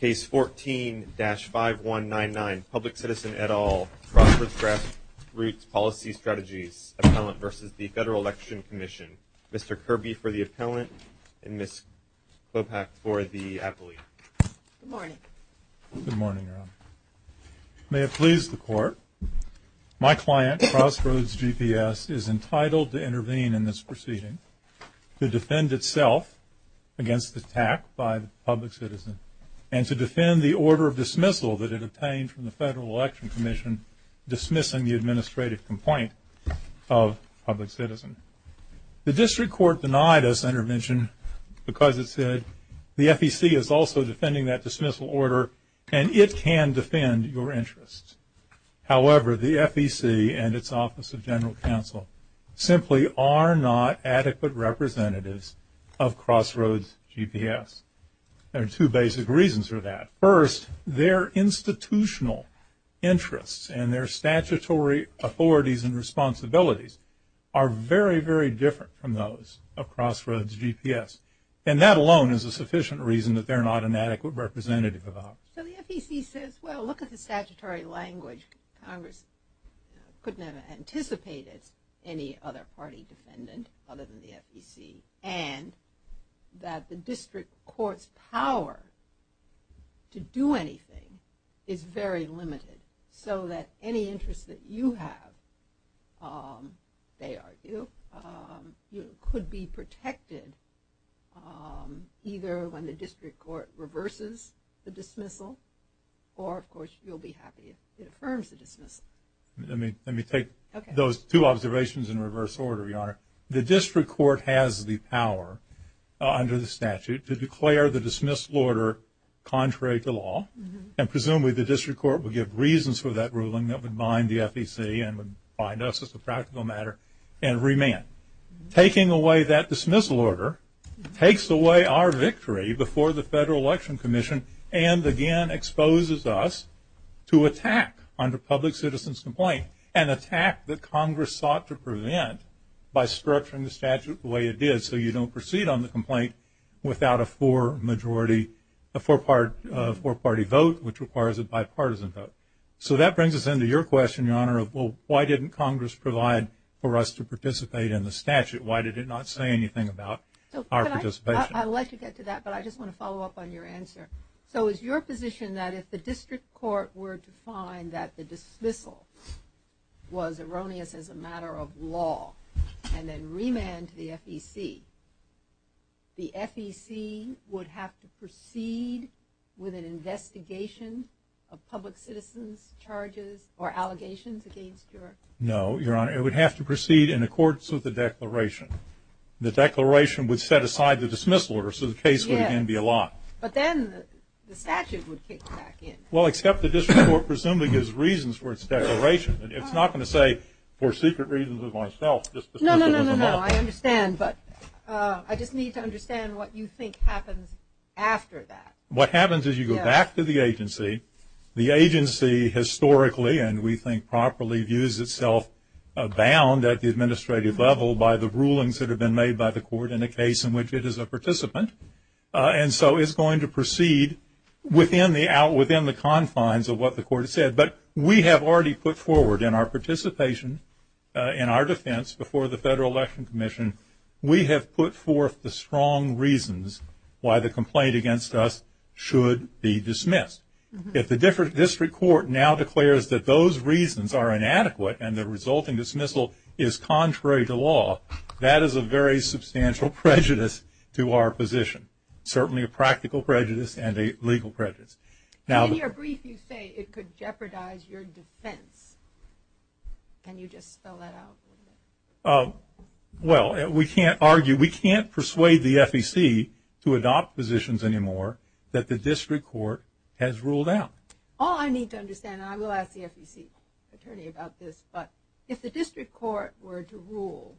Case 14-5199, Public Citizen et al., Crossroads Grassroots Policy Strategies, Appellant v. Federal Election Commission. Mr. Kirby for the Appellant, and Ms. Klopach for the Appellee. Good morning. Good morning, Rob. May it please the Court, my client, Crossroads GPS, is entitled to intervene in this proceeding to defend itself against attack by the Public Citizen, and to defend the order of dismissal that it obtained from the Federal Election Commission dismissing the administrative complaint of Public Citizen. The District Court denied this intervention because it said the FEC is also defending that dismissal order and it can defend your interests. However, the FEC and its Office of General Counsel simply are not adequate representatives of Crossroads GPS. There are two basic reasons for that. First, their institutional interests and their statutory authorities and responsibilities are very, very different from those of Crossroads GPS, and that alone is a sufficient reason that they're not an adequate representative of ours. So the FEC says, well, look at the statutory language. Congress couldn't have anticipated any other party defendant other than the FEC, and that the District Court's power to do anything is very limited, so that any interest that you have, they argue, could be protected either when the District Court reverses the dismissal or, of course, you'll be happy if it affirms the dismissal. Let me take those two observations in reverse order, Your Honor. The District Court has the power under the statute to declare the dismissal order contrary to law, and presumably the District Court will give reasons for that ruling that would bind the FEC and would bind us as a practical matter and remand. Taking away that dismissal order takes away our victory before the Federal Election Commission and again exposes us to attack under public citizen's complaint, an attack that Congress sought to prevent by structuring the statute the way it did so you don't proceed on the complaint without a four-party vote, which requires a bipartisan vote. Well, why didn't Congress provide for us to participate in the statute? Why did it not say anything about our participation? I'd like to get to that, but I just want to follow up on your answer. So is your position that if the District Court were to find that the dismissal was erroneous as a matter of law and then remand to the FEC, the FEC would have to proceed with an investigation of public citizen's charges or allegations against your? No, Your Honor. It would have to proceed in accordance with the declaration. The declaration would set aside the dismissal order so the case would again be a lot. But then the statute would kick back in. Well, except the District Court presumably gives reasons for its declaration. It's not going to say for secret reasons of myself. No, no, no, no, no. I understand, but I just need to understand what you think happens after that. What happens is you go back to the agency. The agency historically, and we think properly, views itself bound at the administrative level by the rulings that have been made by the court in a case in which it is a participant. And so it's going to proceed within the confines of what the court has said. But we have already put forward in our participation in our defense before the Federal Election Commission, we have put forth the strong reasons why the complaint against us should be dismissed. If the District Court now declares that those reasons are inadequate and the resulting dismissal is contrary to law, that is a very substantial prejudice to our position, certainly a practical prejudice and a legal prejudice. In your brief you say it could jeopardize your defense. Can you just spell that out a little bit? Well, we can't argue, we can't persuade the FEC to adopt positions anymore that the District Court has ruled out. All I need to understand, and I will ask the FEC attorney about this, but if the District Court were to rule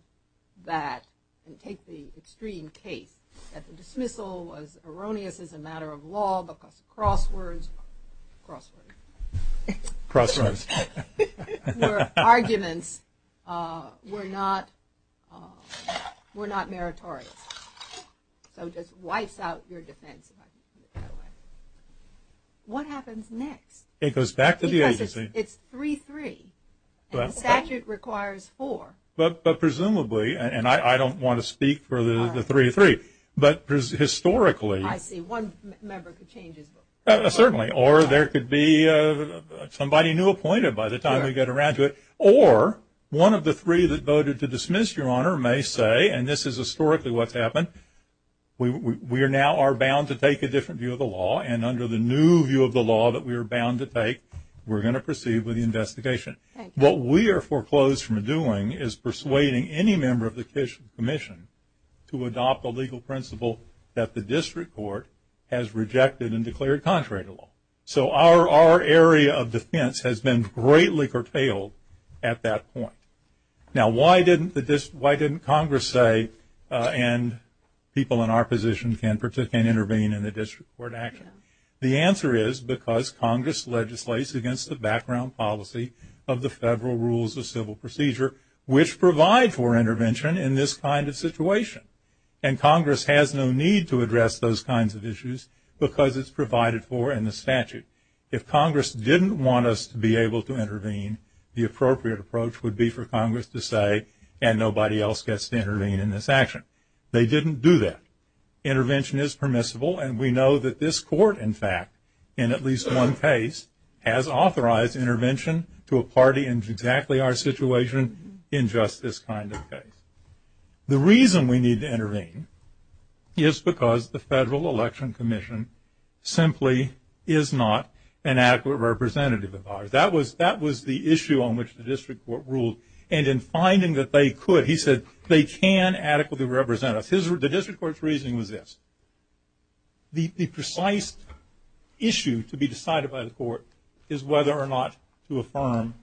that and take the extreme case that the dismissal was erroneous as a matter of law because crosswords were not meritorious. So it just wipes out your defense. What happens next? It goes back to the agency. Because it's 3-3 and the statute requires 4. But presumably, and I don't want to speak for the 3-3, but historically. I see. One member could change his book. Certainly. Or there could be somebody new appointed by the time we get around to it. Or one of the three that voted to dismiss, Your Honor, may say, and this is historically what's happened, we now are bound to take a different view of the law and under the new view of the law that we are bound to take, we're going to proceed with the investigation. What we are foreclosed from doing is persuading any member of the commission to adopt a legal principle that the District Court has rejected and declared contrary to the law. So our area of defense has been greatly curtailed at that point. Now, why didn't Congress say, and people in our position can intervene in the District Court action? The answer is because Congress legislates against the background policy of the federal rules of civil procedure, which provide for intervention in this kind of situation. And Congress has no need to address those kinds of issues because it's provided for in the statute. If Congress didn't want us to be able to intervene, the appropriate approach would be for Congress to say, and nobody else gets to intervene in this action. They didn't do that. Intervention is permissible, and we know that this Court, in fact, in at least one case, has authorized intervention to a party in exactly our situation in just this kind of case. The reason we need to intervene is because the Federal Election Commission simply is not an adequate representative of ours. That was the issue on which the District Court ruled. And in finding that they could, he said, they can adequately represent us. The District Court's reasoning was this. The precise issue to be decided by the Court is whether or not to affirm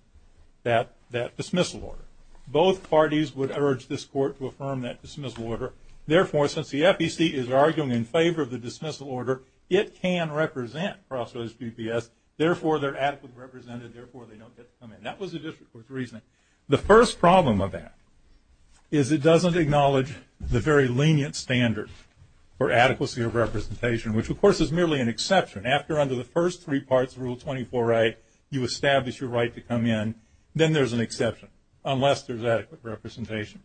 that dismissal order. Both parties would urge this Court to affirm that dismissal order. Therefore, since the FEC is arguing in favor of the dismissal order, it can represent prosecutors' DPS. Therefore, they're adequately represented. Therefore, they don't get to come in. That was the District Court's reasoning. The first problem of that is it doesn't acknowledge the very lenient standard for adequacy of representation, which, of course, is merely an exception. After under the first three parts of Rule 24a, you establish your right to come in. Then there's an exception, unless there's adequate representation.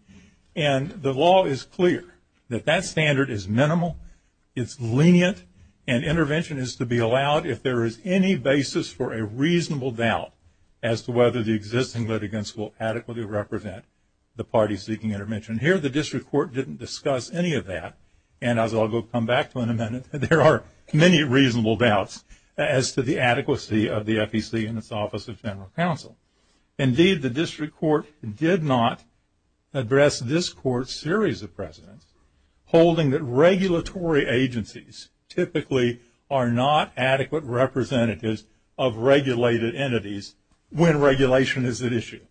And the law is clear that that standard is minimal, it's lenient, and intervention is to be allowed if there is any basis for a reasonable doubt as to whether the existing litigants will adequately represent the parties seeking intervention. Here, the District Court didn't discuss any of that. And as I'll come back to in a minute, there are many reasonable doubts as to the adequacy of the FEC and its Office of General Counsel. Indeed, the District Court did not address this Court's series of precedents, holding that regulatory agencies typically are not adequate representatives of regulated entities when regulation is at issue.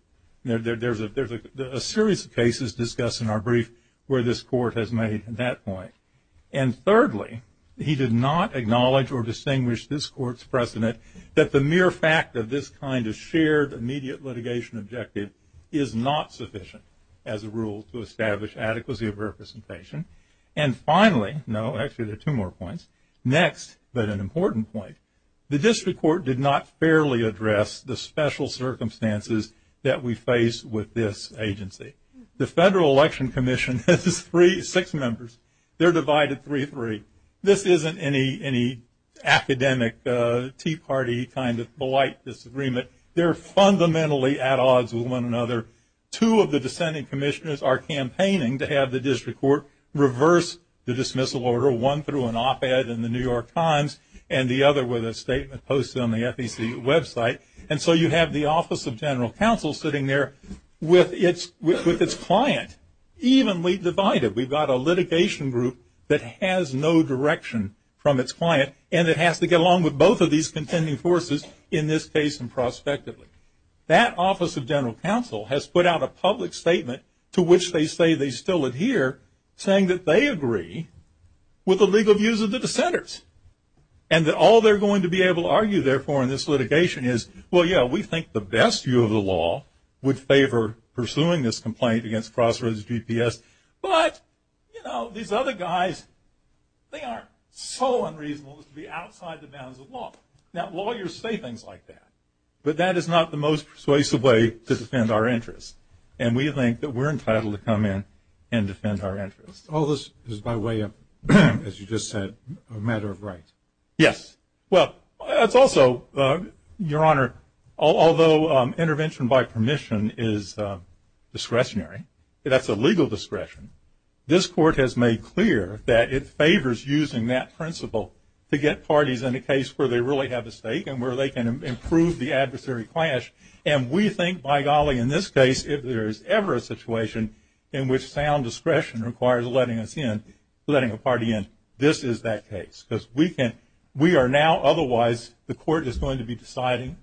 There's a series of cases discussed in our brief where this Court has made that point. And thirdly, he did not acknowledge or distinguish this Court's precedent that the mere fact of this kind of shared immediate litigation objective is not sufficient as a rule to establish adequacy of representation. And finally, no, actually there are two more points. Next, but an important point, the District Court did not fairly address the special circumstances that we face with this agency. The Federal Election Commission has six members. They're divided 3-3. This isn't any academic Tea Party kind of polite disagreement. They're fundamentally at odds with one another. Two of the dissenting commissioners are campaigning to have the District Court reverse the dismissal order, one through an op-ed in the New York Times and the other with a statement posted on the FEC website. And so you have the Office of General Counsel sitting there with its client evenly divided. We've got a litigation group that has no direction from its client and it has to get along with both of these contending forces in this case and prospectively. That Office of General Counsel has put out a public statement to which they say they still adhere, saying that they agree with the legal views of the dissenters and that all they're going to be able to argue, therefore, in this litigation is, well, yeah, we think the best view of the law would favor pursuing this complaint against Crossroads GPS, but, you know, these other guys, they are so unreasonable as to be outside the bounds of law. Now, lawyers say things like that, but that is not the most persuasive way to defend our interests, and we think that we're entitled to come in and defend our interests. All this is by way of, as you just said, a matter of rights. Yes. Well, it's also, Your Honor, although intervention by permission is discretionary, that's a legal discretion, this Court has made clear that it favors using that principle to get parties in a case where they really have a stake and where they can improve the adversary clash, and we think, by golly, in this case, if there is ever a situation in which sound discretion requires letting us in, letting a party in, this is that case, because we are now otherwise, the Court is going to be deciding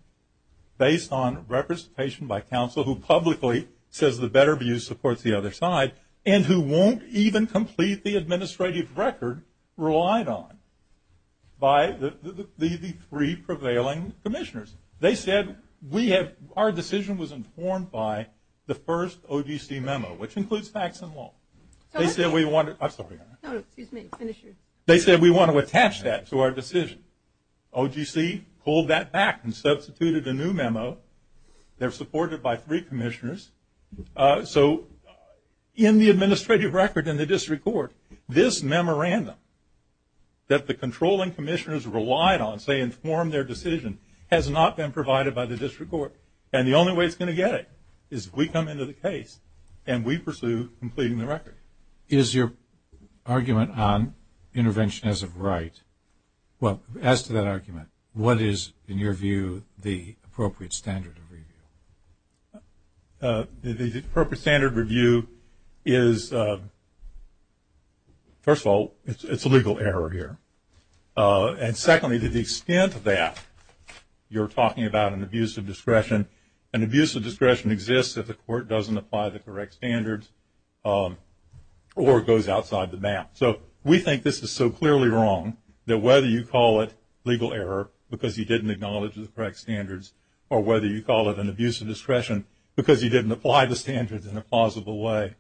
based on representation by counsel who publicly says the better view supports the other side and who won't even complete the administrative record relied on by the three prevailing commissioners. They said our decision was informed by the first OGC memo, which includes facts and law. They said we want to attach that to our decision. OGC pulled that back and substituted a new memo. They're supported by three commissioners. So in the administrative record in the district court, this memorandum that the controlling commissioners relied on, say informed their decision, has not been provided by the district court, and the only way it's going to get it is if we come into the case and we pursue completing the record. Is your argument on intervention as of right, well, as to that argument, what is, in your view, the appropriate standard of review? The appropriate standard of review is, first of all, it's a legal error here. And secondly, to the extent that you're talking about an abuse of discretion, an abuse of discretion exists if the court doesn't apply the correct standards or goes outside the map. So we think this is so clearly wrong that whether you call it legal error because you didn't acknowledge the correct standards or whether you call it an abuse of discretion because you didn't apply the standards in a plausible way,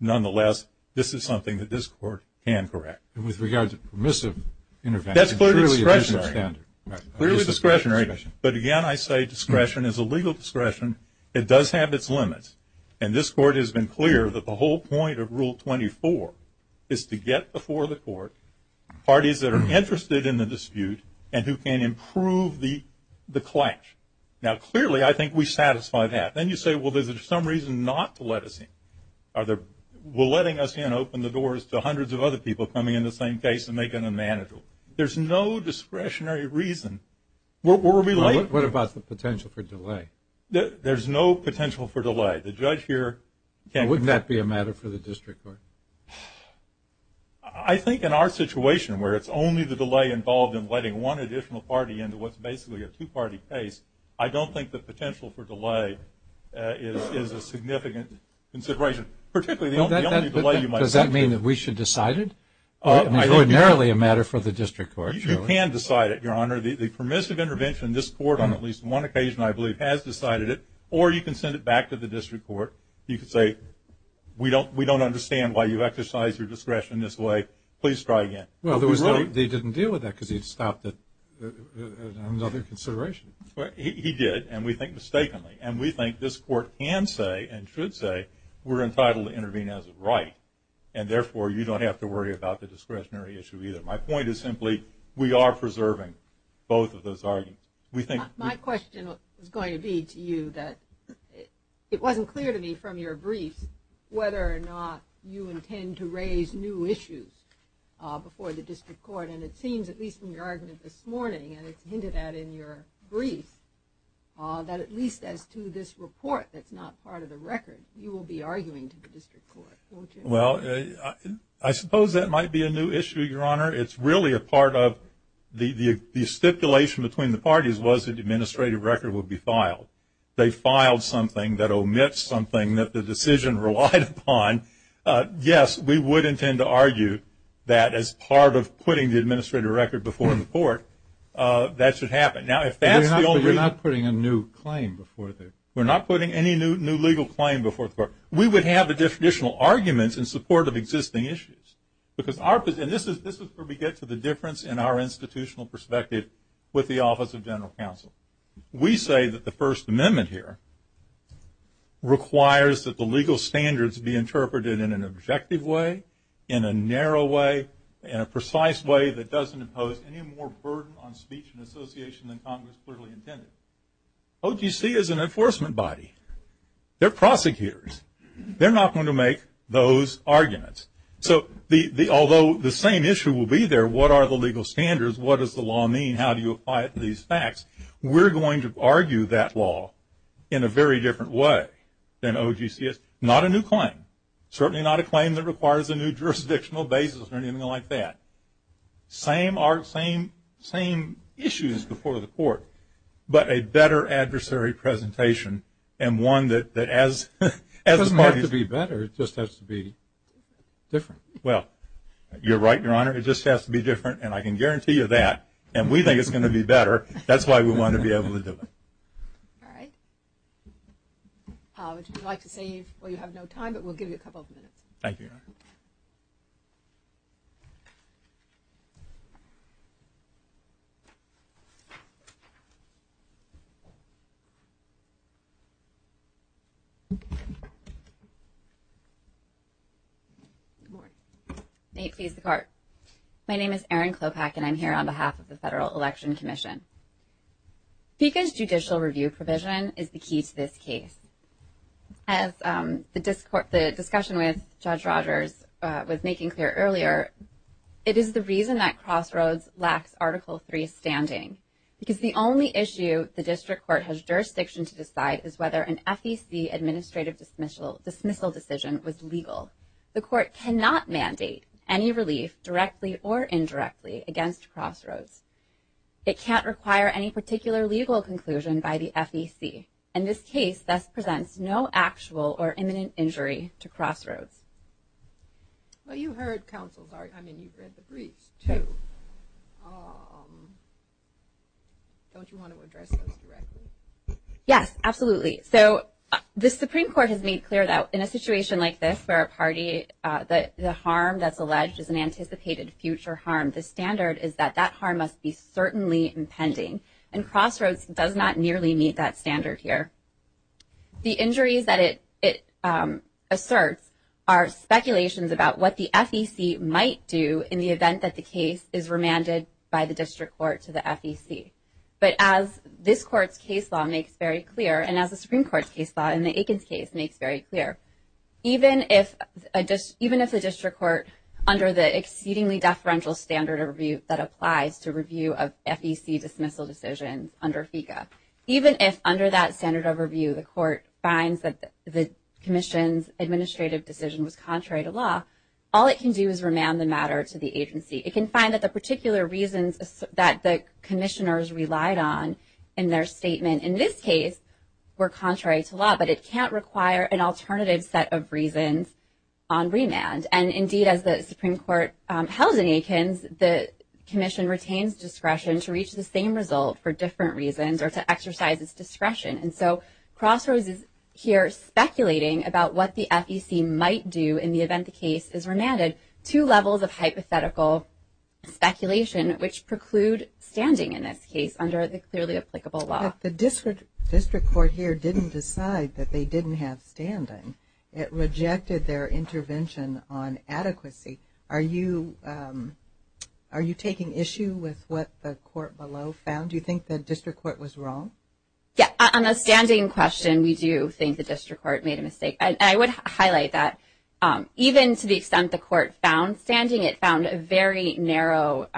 nonetheless, this is something that this court can correct. And with regard to permissive intervention? That's clearly discretionary. Clearly discretionary. But again, I say discretion is a legal discretion. It does have its limits. And this court has been clear that the whole point of Rule 24 is to get before the court parties that are interested in the dispute and who can improve the clash. Now, clearly I think we satisfy that. Then you say, well, there's some reason not to let us in. Are they letting us in, open the doors to hundreds of other people coming in the same case and making them manageable? There's no discretionary reason. What about the potential for delay? There's no potential for delay. The judge here can't. Wouldn't that be a matter for the district court? I think in our situation where it's only the delay involved in letting one additional party in to what's basically a two-party case, I don't think the potential for delay is a significant consideration, particularly the only delay you might see. Does that mean that we should decide it? It's ordinarily a matter for the district court. You can decide it, Your Honor. The permissive intervention in this court on at least one occasion, I believe, has decided it, or you can send it back to the district court. You can say, we don't understand why you exercise your discretion this way. Please try again. Well, they didn't deal with that because he had stopped another consideration. He did, and we think mistakenly, and we think this court can say and should say we're entitled to intervene as a right, and therefore you don't have to worry about the discretionary issue either. My point is simply we are preserving both of those arguments. My question is going to be to you that it wasn't clear to me from your briefs whether or not you intend to raise new issues before the district court, and it seems at least in your argument this morning, and it's hinted at in your brief, that at least as to this report that's not part of the record, you will be arguing to the district court, won't you? Well, I suppose that might be a new issue, Your Honor. It's really a part of the stipulation between the parties was the administrative record would be filed. They filed something that omits something that the decision relied upon. Yes, we would intend to argue that as part of putting the administrative record before the court, that should happen. Now, if that's the only reason. But you're not putting a new claim before the court. We're not putting any new legal claim before the court. We would have additional arguments in support of existing issues. And this is where we get to the difference in our institutional perspective with the Office of General Counsel. We say that the First Amendment here requires that the legal standards be interpreted in an objective way, in a narrow way, in a precise way that doesn't impose any more burden on speech and association than Congress clearly intended. OGC is an enforcement body. They're prosecutors. They're not going to make those arguments. So although the same issue will be there, what are the legal standards? What does the law mean? How do you apply it to these facts? We're going to argue that law in a very different way than OGC is. Not a new claim. Certainly not a claim that requires a new jurisdictional basis or anything like that. Same art, same issues before the court, but a better adversary presentation and one that as the parties. It doesn't have to be better. It just has to be different. Well, you're right, Your Honor. It just has to be different, and I can guarantee you that. And we think it's going to be better. That's why we want to be able to do it. All right. Would you like to save? Well, you have no time, but we'll give you a couple of minutes. Thank you, Your Honor. Good morning. You may please start. My name is Erin Klopack, and I'm here on behalf of the Federal Election Commission. FECA's judicial review provision is the key to this case. As the discussion with Judge Rogers was making clear earlier, it is the reason that Crossroads lacks Article III standing, because the only issue the district court has jurisdiction to decide is whether an FEC administrative dismissal decision was legal. The court cannot mandate any relief, directly or indirectly, against Crossroads. It can't require any particular legal conclusion by the FEC, and this case thus presents no actual or imminent injury to Crossroads. Well, you heard counsel's argument. I mean, you've read the briefs, too. Don't you want to address those directly? Yes, absolutely. So the Supreme Court has made clear that in a situation like this where a party, the harm that's alleged is an anticipated future harm, the standard is that that harm must be certainly impending, and Crossroads does not nearly meet that standard here. The injuries that it asserts are speculations about what the FEC might do in the event that the case is remanded by the district court to the FEC. But as this Court's case law makes very clear, and as the Supreme Court's case law in the Aikens case makes very clear, even if the district court, under the exceedingly deferential standard of review that applies to review of FEC dismissal decisions under FECA, even if under that standard of review the court finds that the commission's administrative decision was contrary to law, all it can do is remand the matter to the agency. It can find that the particular reasons that the commissioners relied on in their statement in this case were contrary to law, but it can't require an alternative set of reasons on remand. And indeed, as the Supreme Court held in Aikens, the commission retains discretion to reach the same result for different reasons or to exercise its discretion. And so Crossroads is here speculating about what the FEC might do in the event the case is remanded, two levels of hypothetical speculation, which preclude standing in this case under the clearly applicable law. But the district court here didn't decide that they didn't have standing. It rejected their intervention on adequacy. Are you taking issue with what the court below found? Do you think the district court was wrong? Yeah. On the standing question, we do think the district court made a mistake. And I would highlight that even to the extent the court found standing, it found a very narrow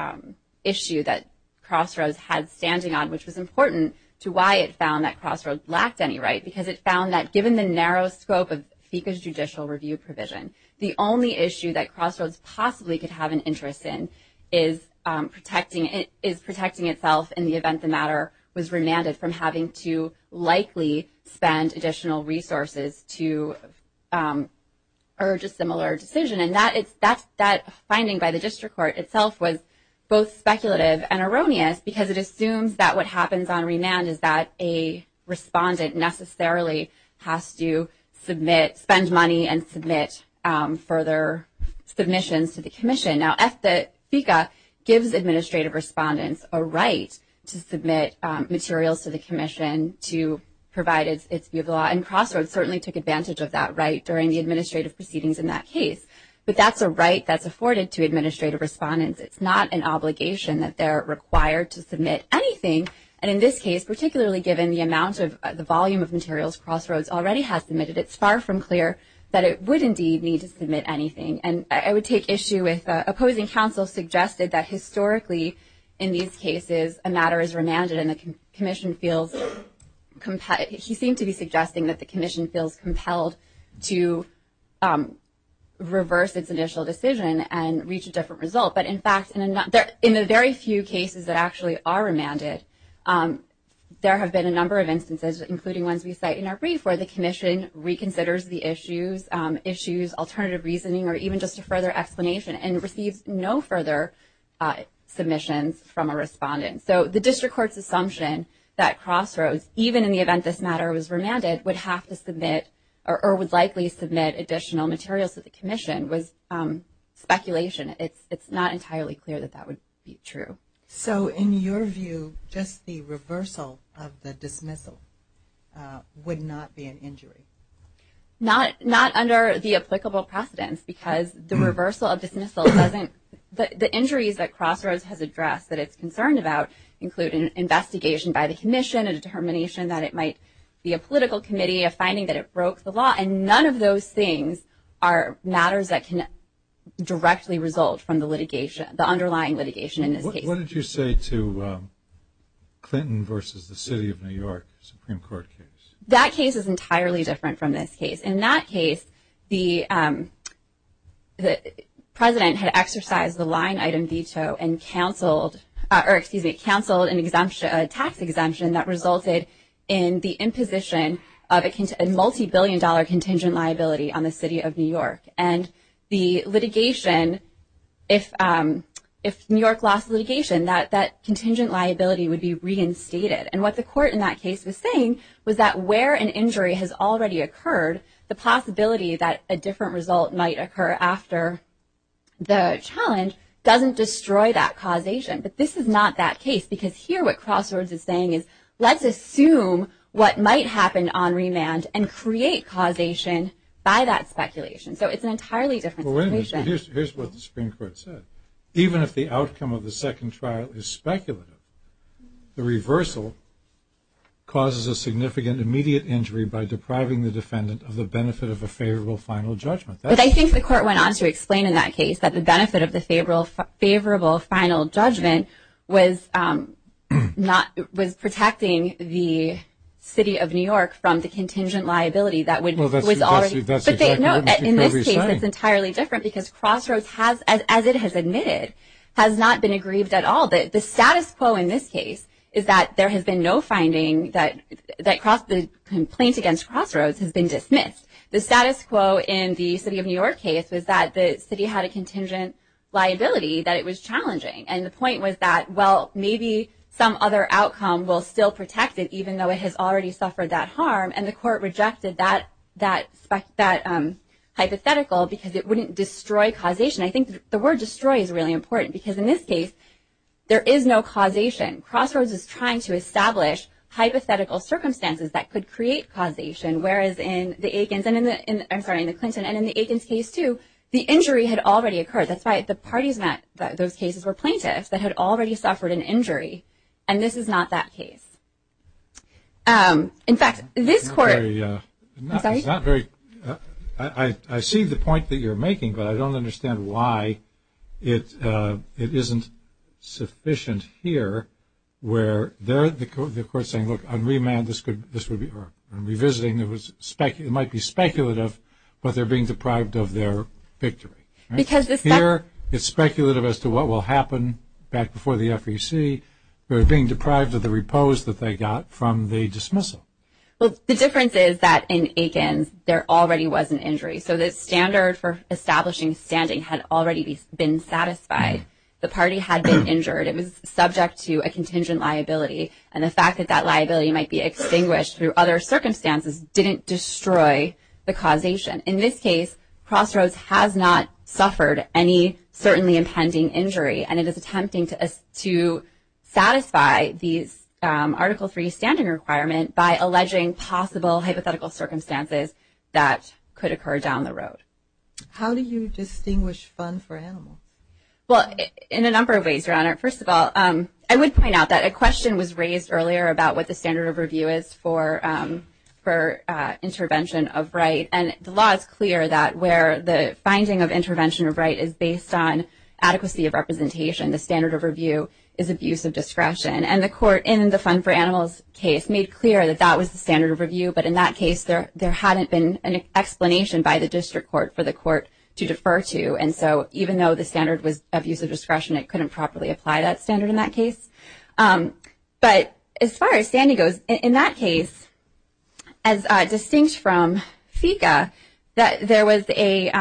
issue that Crossroads had standing on, which was important to why it found that Crossroads lacked any right, because it found that given the narrow scope of FECA's judicial review provision, the only issue that Crossroads possibly could have an interest in is protecting itself in the event the matter was remanded from having to likely spend additional resources to urge a similar decision. And that finding by the district court itself was both speculative and erroneous, because it assumes that what happens on remand is that a respondent necessarily has to spend money and submit further submissions to the commission. Now, FECA gives administrative respondents a right to submit materials to the commission to provide its view of the law, and Crossroads certainly took advantage of that right during the administrative proceedings in that case. But that's a right that's afforded to administrative respondents. It's not an obligation that they're required to submit anything. And in this case, particularly given the amount of the volume of materials Crossroads already has submitted, it's far from clear that it would indeed need to submit anything. And I would take issue with opposing counsel suggested that historically in these cases, a matter is remanded and the commission feels compelled. He seemed to be suggesting that the commission feels compelled to reverse its initial decision and reach a different result. But, in fact, in the very few cases that actually are remanded, there have been a number of instances, including ones we cite in our brief, where the commission reconsiders the issues, issues, alternative reasoning, or even just a further explanation and receives no further submissions from a respondent. So the district court's assumption that Crossroads, even in the event this matter was remanded, would have to submit or would likely submit additional materials to the commission was speculation. It's not entirely clear that that would be true. So in your view, just the reversal of the dismissal would not be an injury? Not under the applicable precedence because the reversal of dismissal doesn't – the injuries that Crossroads has addressed that it's concerned about include an investigation by the commission, a determination that it might be a political committee, a finding that it broke the law. And none of those things are matters that can directly result from the litigation, the underlying litigation in this case. What did you say to Clinton versus the city of New York Supreme Court case? That case is entirely different from this case. In that case, the president had exercised the line-item veto and canceled – or, excuse me, canceled a tax exemption that resulted in the imposition of a multi-billion-dollar contingent liability on the city of New York. And the litigation – if New York lost litigation, that contingent liability would be reinstated. And what the court in that case was saying was that where an injury has already occurred, the possibility that a different result might occur after the challenge doesn't destroy that causation. But this is not that case because here what Crossroads is saying is, let's assume what might happen on remand and create causation by that speculation. So it's an entirely different situation. Well, wait a minute. Here's what the Supreme Court said. Even if the outcome of the second trial is speculative, the reversal causes a significant immediate injury by depriving the defendant of the benefit of a favorable final judgment. But I think the court went on to explain in that case that the benefit of the favorable final judgment was protecting the city of New York from the contingent liability that was already – Well, that's exactly what we're saying. No, in this case it's entirely different because Crossroads has, as it has admitted, has not been aggrieved at all. The status quo in this case is that there has been no finding that the complaint against Crossroads has been dismissed. The status quo in the city of New York case was that the city had a contingent liability that it was challenging. And the point was that, well, maybe some other outcome will still protect it, even though it has already suffered that harm. And the court rejected that hypothetical because it wouldn't destroy causation. I think the word destroy is really important because in this case there is no causation. Crossroads is trying to establish hypothetical circumstances that could create causation, whereas in the Clinton and in the Aikens case, too, the injury had already occurred. That's why the parties in those cases were plaintiffs that had already suffered an injury. And this is not that case. In fact, this court – It's not very – I see the point that you're making, but I don't understand why it isn't sufficient here where the court is saying, look, on remand this would be – or on revisiting it might be speculative, but they're being deprived of their victory. Because this – Here it's speculative as to what will happen back before the FEC. They're being deprived of the repose that they got from the dismissal. Well, the difference is that in Aikens there already was an injury. So the standard for establishing standing had already been satisfied. The party had been injured. It was subject to a contingent liability. And the fact that that liability might be extinguished through other circumstances didn't destroy the causation. In this case, Crossroads has not suffered any certainly impending injury, and it is attempting to satisfy these Article III standing requirements by alleging possible hypothetical circumstances that could occur down the road. How do you distinguish fun for animals? Well, in a number of ways, Your Honor. First of all, I would point out that a question was raised earlier about what the standard of review is for intervention of right. And the law is clear that where the finding of intervention of right is based on adequacy of representation, the standard of review is abuse of discretion. And the court in the fun for animals case made clear that that was the standard of review, but in that case there hadn't been an explanation by the district court for the court to defer to. And so even though the standard was abuse of discretion, it couldn't properly apply that standard in that case. But as far as standing goes, in that case, as distinct from FICA, there was the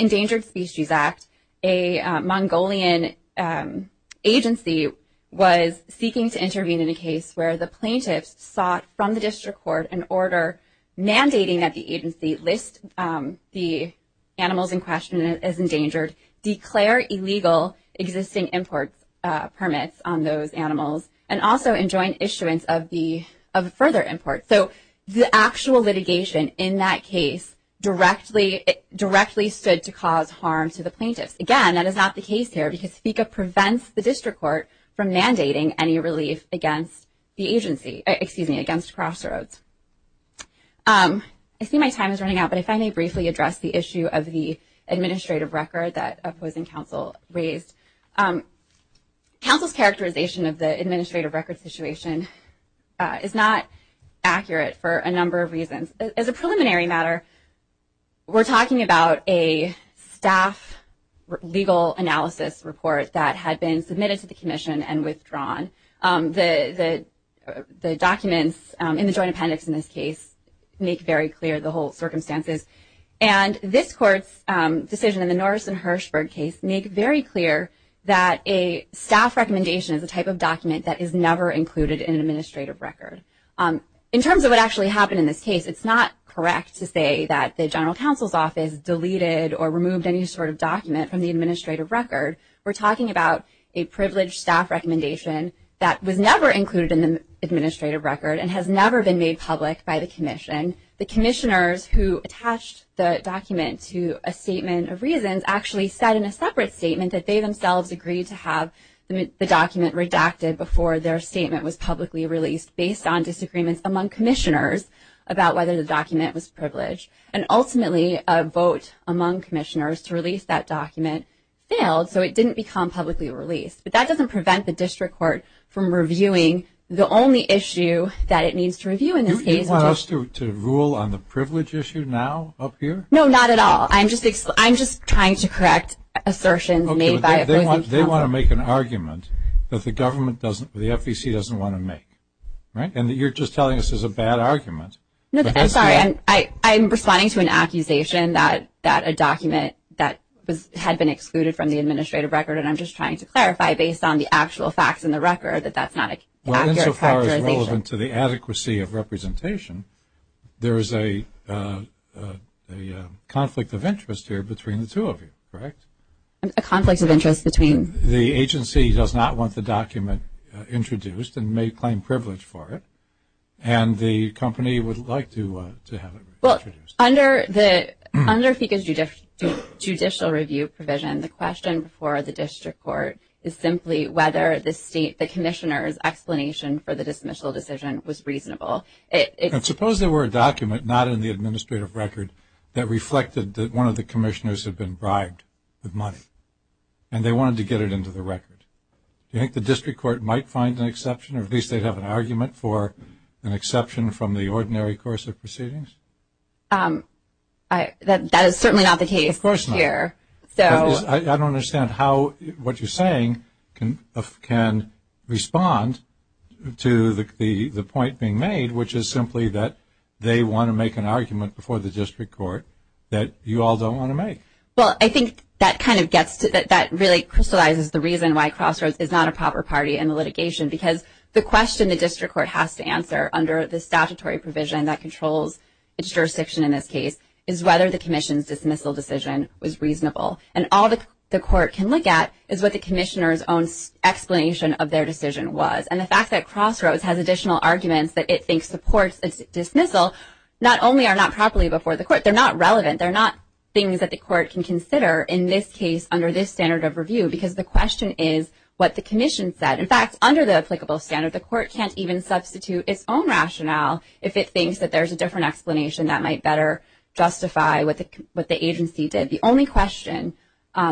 Endangered Species Act. A Mongolian agency was seeking to intervene in a case where the plaintiffs sought from the district court an order mandating that the agency list the animals in question as endangered, declare illegal existing import permits on those animals, and also enjoin issuance of further import. So the actual litigation in that case directly stood to cause harm to the plaintiffs. Again, that is not the case here, because FICA prevents the district court from mandating any relief against the agency, excuse me, against Crossroads. I see my time is running out, but if I may briefly address the issue of the administrative record that opposing counsel raised. Counsel's characterization of the administrative record situation is not accurate for a number of reasons. As a preliminary matter, we're talking about a staff legal analysis report that had been submitted to the commission and withdrawn. The documents in the joint appendix in this case make very clear the whole circumstances. And this court's decision in the Norris and Hershberg case make very clear that a staff recommendation is a type of document that is never included in an administrative record. In terms of what actually happened in this case, it's not correct to say that the general counsel's office deleted or removed any sort of document from the administrative record. We're talking about a privileged staff recommendation that was never included in the administrative record and has never been made public by the commission. The commissioners who attached the document to a statement of reasons actually said in a separate statement that they themselves agreed to have the document redacted before their statement was publicly released, based on disagreements among commissioners about whether the document was privileged. And ultimately, a vote among commissioners to release that document failed. So it didn't become publicly released. But that doesn't prevent the district court from reviewing the only issue that it needs to review in this case. Do you want us to rule on the privilege issue now up here? No, not at all. I'm just trying to correct assertions made by a privileged counsel. Okay, but they want to make an argument that the government doesn't, the FEC doesn't want to make, right? And you're just telling us this is a bad argument. No, I'm sorry. I'm responding to an accusation that a document that had been excluded from the administrative record, and I'm just trying to clarify based on the actual facts in the record that that's not an accurate characterization. Well, insofar as relevant to the adequacy of representation, there is a conflict of interest here between the two of you, correct? A conflict of interest between? The agency does not want the document introduced and may claim privilege for it. And the company would like to have it introduced. Well, under FECA's judicial review provision, the question for the district court is simply whether the commissioner's explanation for the dismissal decision was reasonable. And suppose there were a document not in the administrative record that reflected that one of the commissioners had been bribed with money and they wanted to get it into the record. Do you think the district court might find an exception, or at least they'd have an argument for an exception from the ordinary course of proceedings? That is certainly not the case here. Of course not. I don't understand how what you're saying can respond to the point being made, which is simply that they want to make an argument before the district court that you all don't want to make. Well, I think that really crystallizes the reason why Crossroads is not a proper party in the litigation, because the question the district court has to answer under the statutory provision that controls its jurisdiction in this case is whether the commission's dismissal decision was reasonable. And all the court can look at is what the commissioner's own explanation of their decision was. And the fact that Crossroads has additional arguments that it thinks supports its dismissal not only are not properly before the court, they're not relevant. They're not things that the court can consider in this case under this standard of review, because the question is what the commission said. In fact, under the applicable standard, the court can't even substitute its own rationale if it thinks that there's a different explanation that might better justify what the agency did. The only question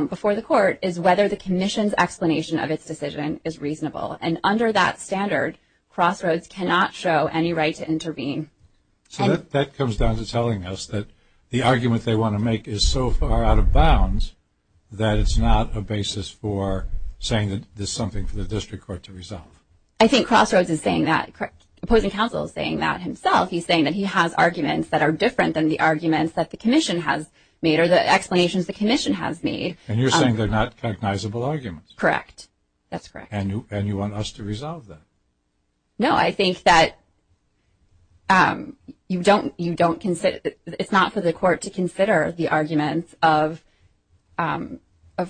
before the court is whether the commission's explanation of its decision is reasonable. And under that standard, Crossroads cannot show any right to intervene. So that comes down to telling us that the argument they want to make is so far out of bounds that it's not a basis for saying that there's something for the district court to resolve. I think Crossroads is saying that. The opposing counsel is saying that himself. He's saying that he has arguments that are different than the arguments that the commission has made or the explanations the commission has made. And you're saying they're not cognizable arguments? Correct. That's correct. And you want us to resolve them? No, I think that it's not for the court to consider the arguments of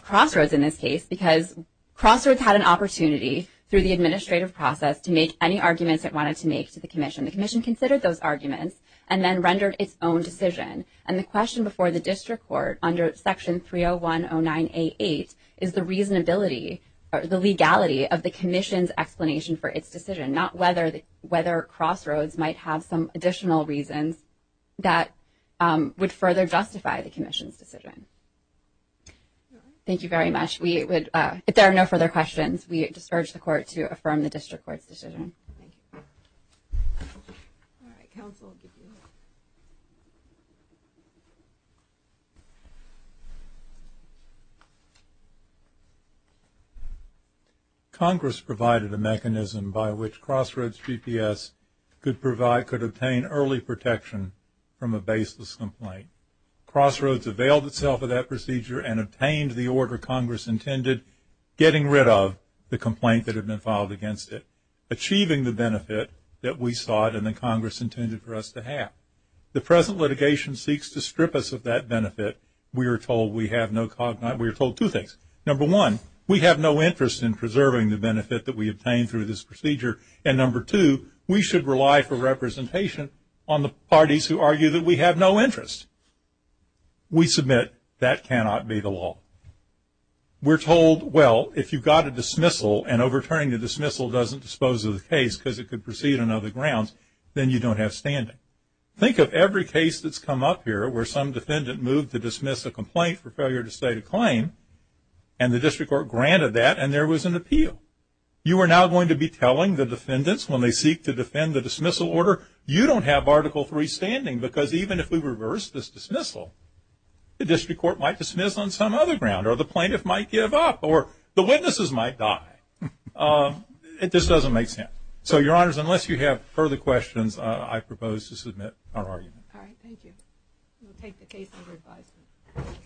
Crossroads in this case, because Crossroads had an opportunity through the administrative process to make any arguments it wanted to make to the commission. The commission considered those arguments and then rendered its own decision. And the question before the district court under Section 30109A8 is the reasonability or the legality of the commission's explanation for its decision, not whether Crossroads might have some additional reasons that would further justify the commission's decision. Thank you very much. If there are no further questions, we just urge the court to affirm the district court's decision. Thank you. All right, counsel. Congress provided a mechanism by which Crossroads GPS could obtain early protection from a baseless complaint. Crossroads availed itself of that procedure and obtained the order Congress intended getting rid of the complaint that had been filed against it, achieving the benefit that we sought and that Congress intended for us to have. The present litigation seeks to strip us of that benefit. We are told we have no cognizance. We are told two things. Number one, we have no interest in preserving the benefit that we obtained through this procedure. And number two, we should rely for representation on the parties who argue that we have no interest. We submit that cannot be the law. We're told, well, if you've got a dismissal and overturning the dismissal doesn't dispose of the case because it could proceed on other grounds, then you don't have standing. Think of every case that's come up here where some defendant moved to dismiss a complaint for failure to state a claim and the district court granted that and there was an appeal. You are now going to be telling the defendants when they seek to defend the dismissal order, you don't have Article III standing because even if we reverse this dismissal, the district court might dismiss on some other ground or the plaintiff might give up or the witnesses might die. It just doesn't make sense. So, Your Honors, unless you have further questions, I propose to submit our argument. All right. Thank you. We'll take the case under advisement.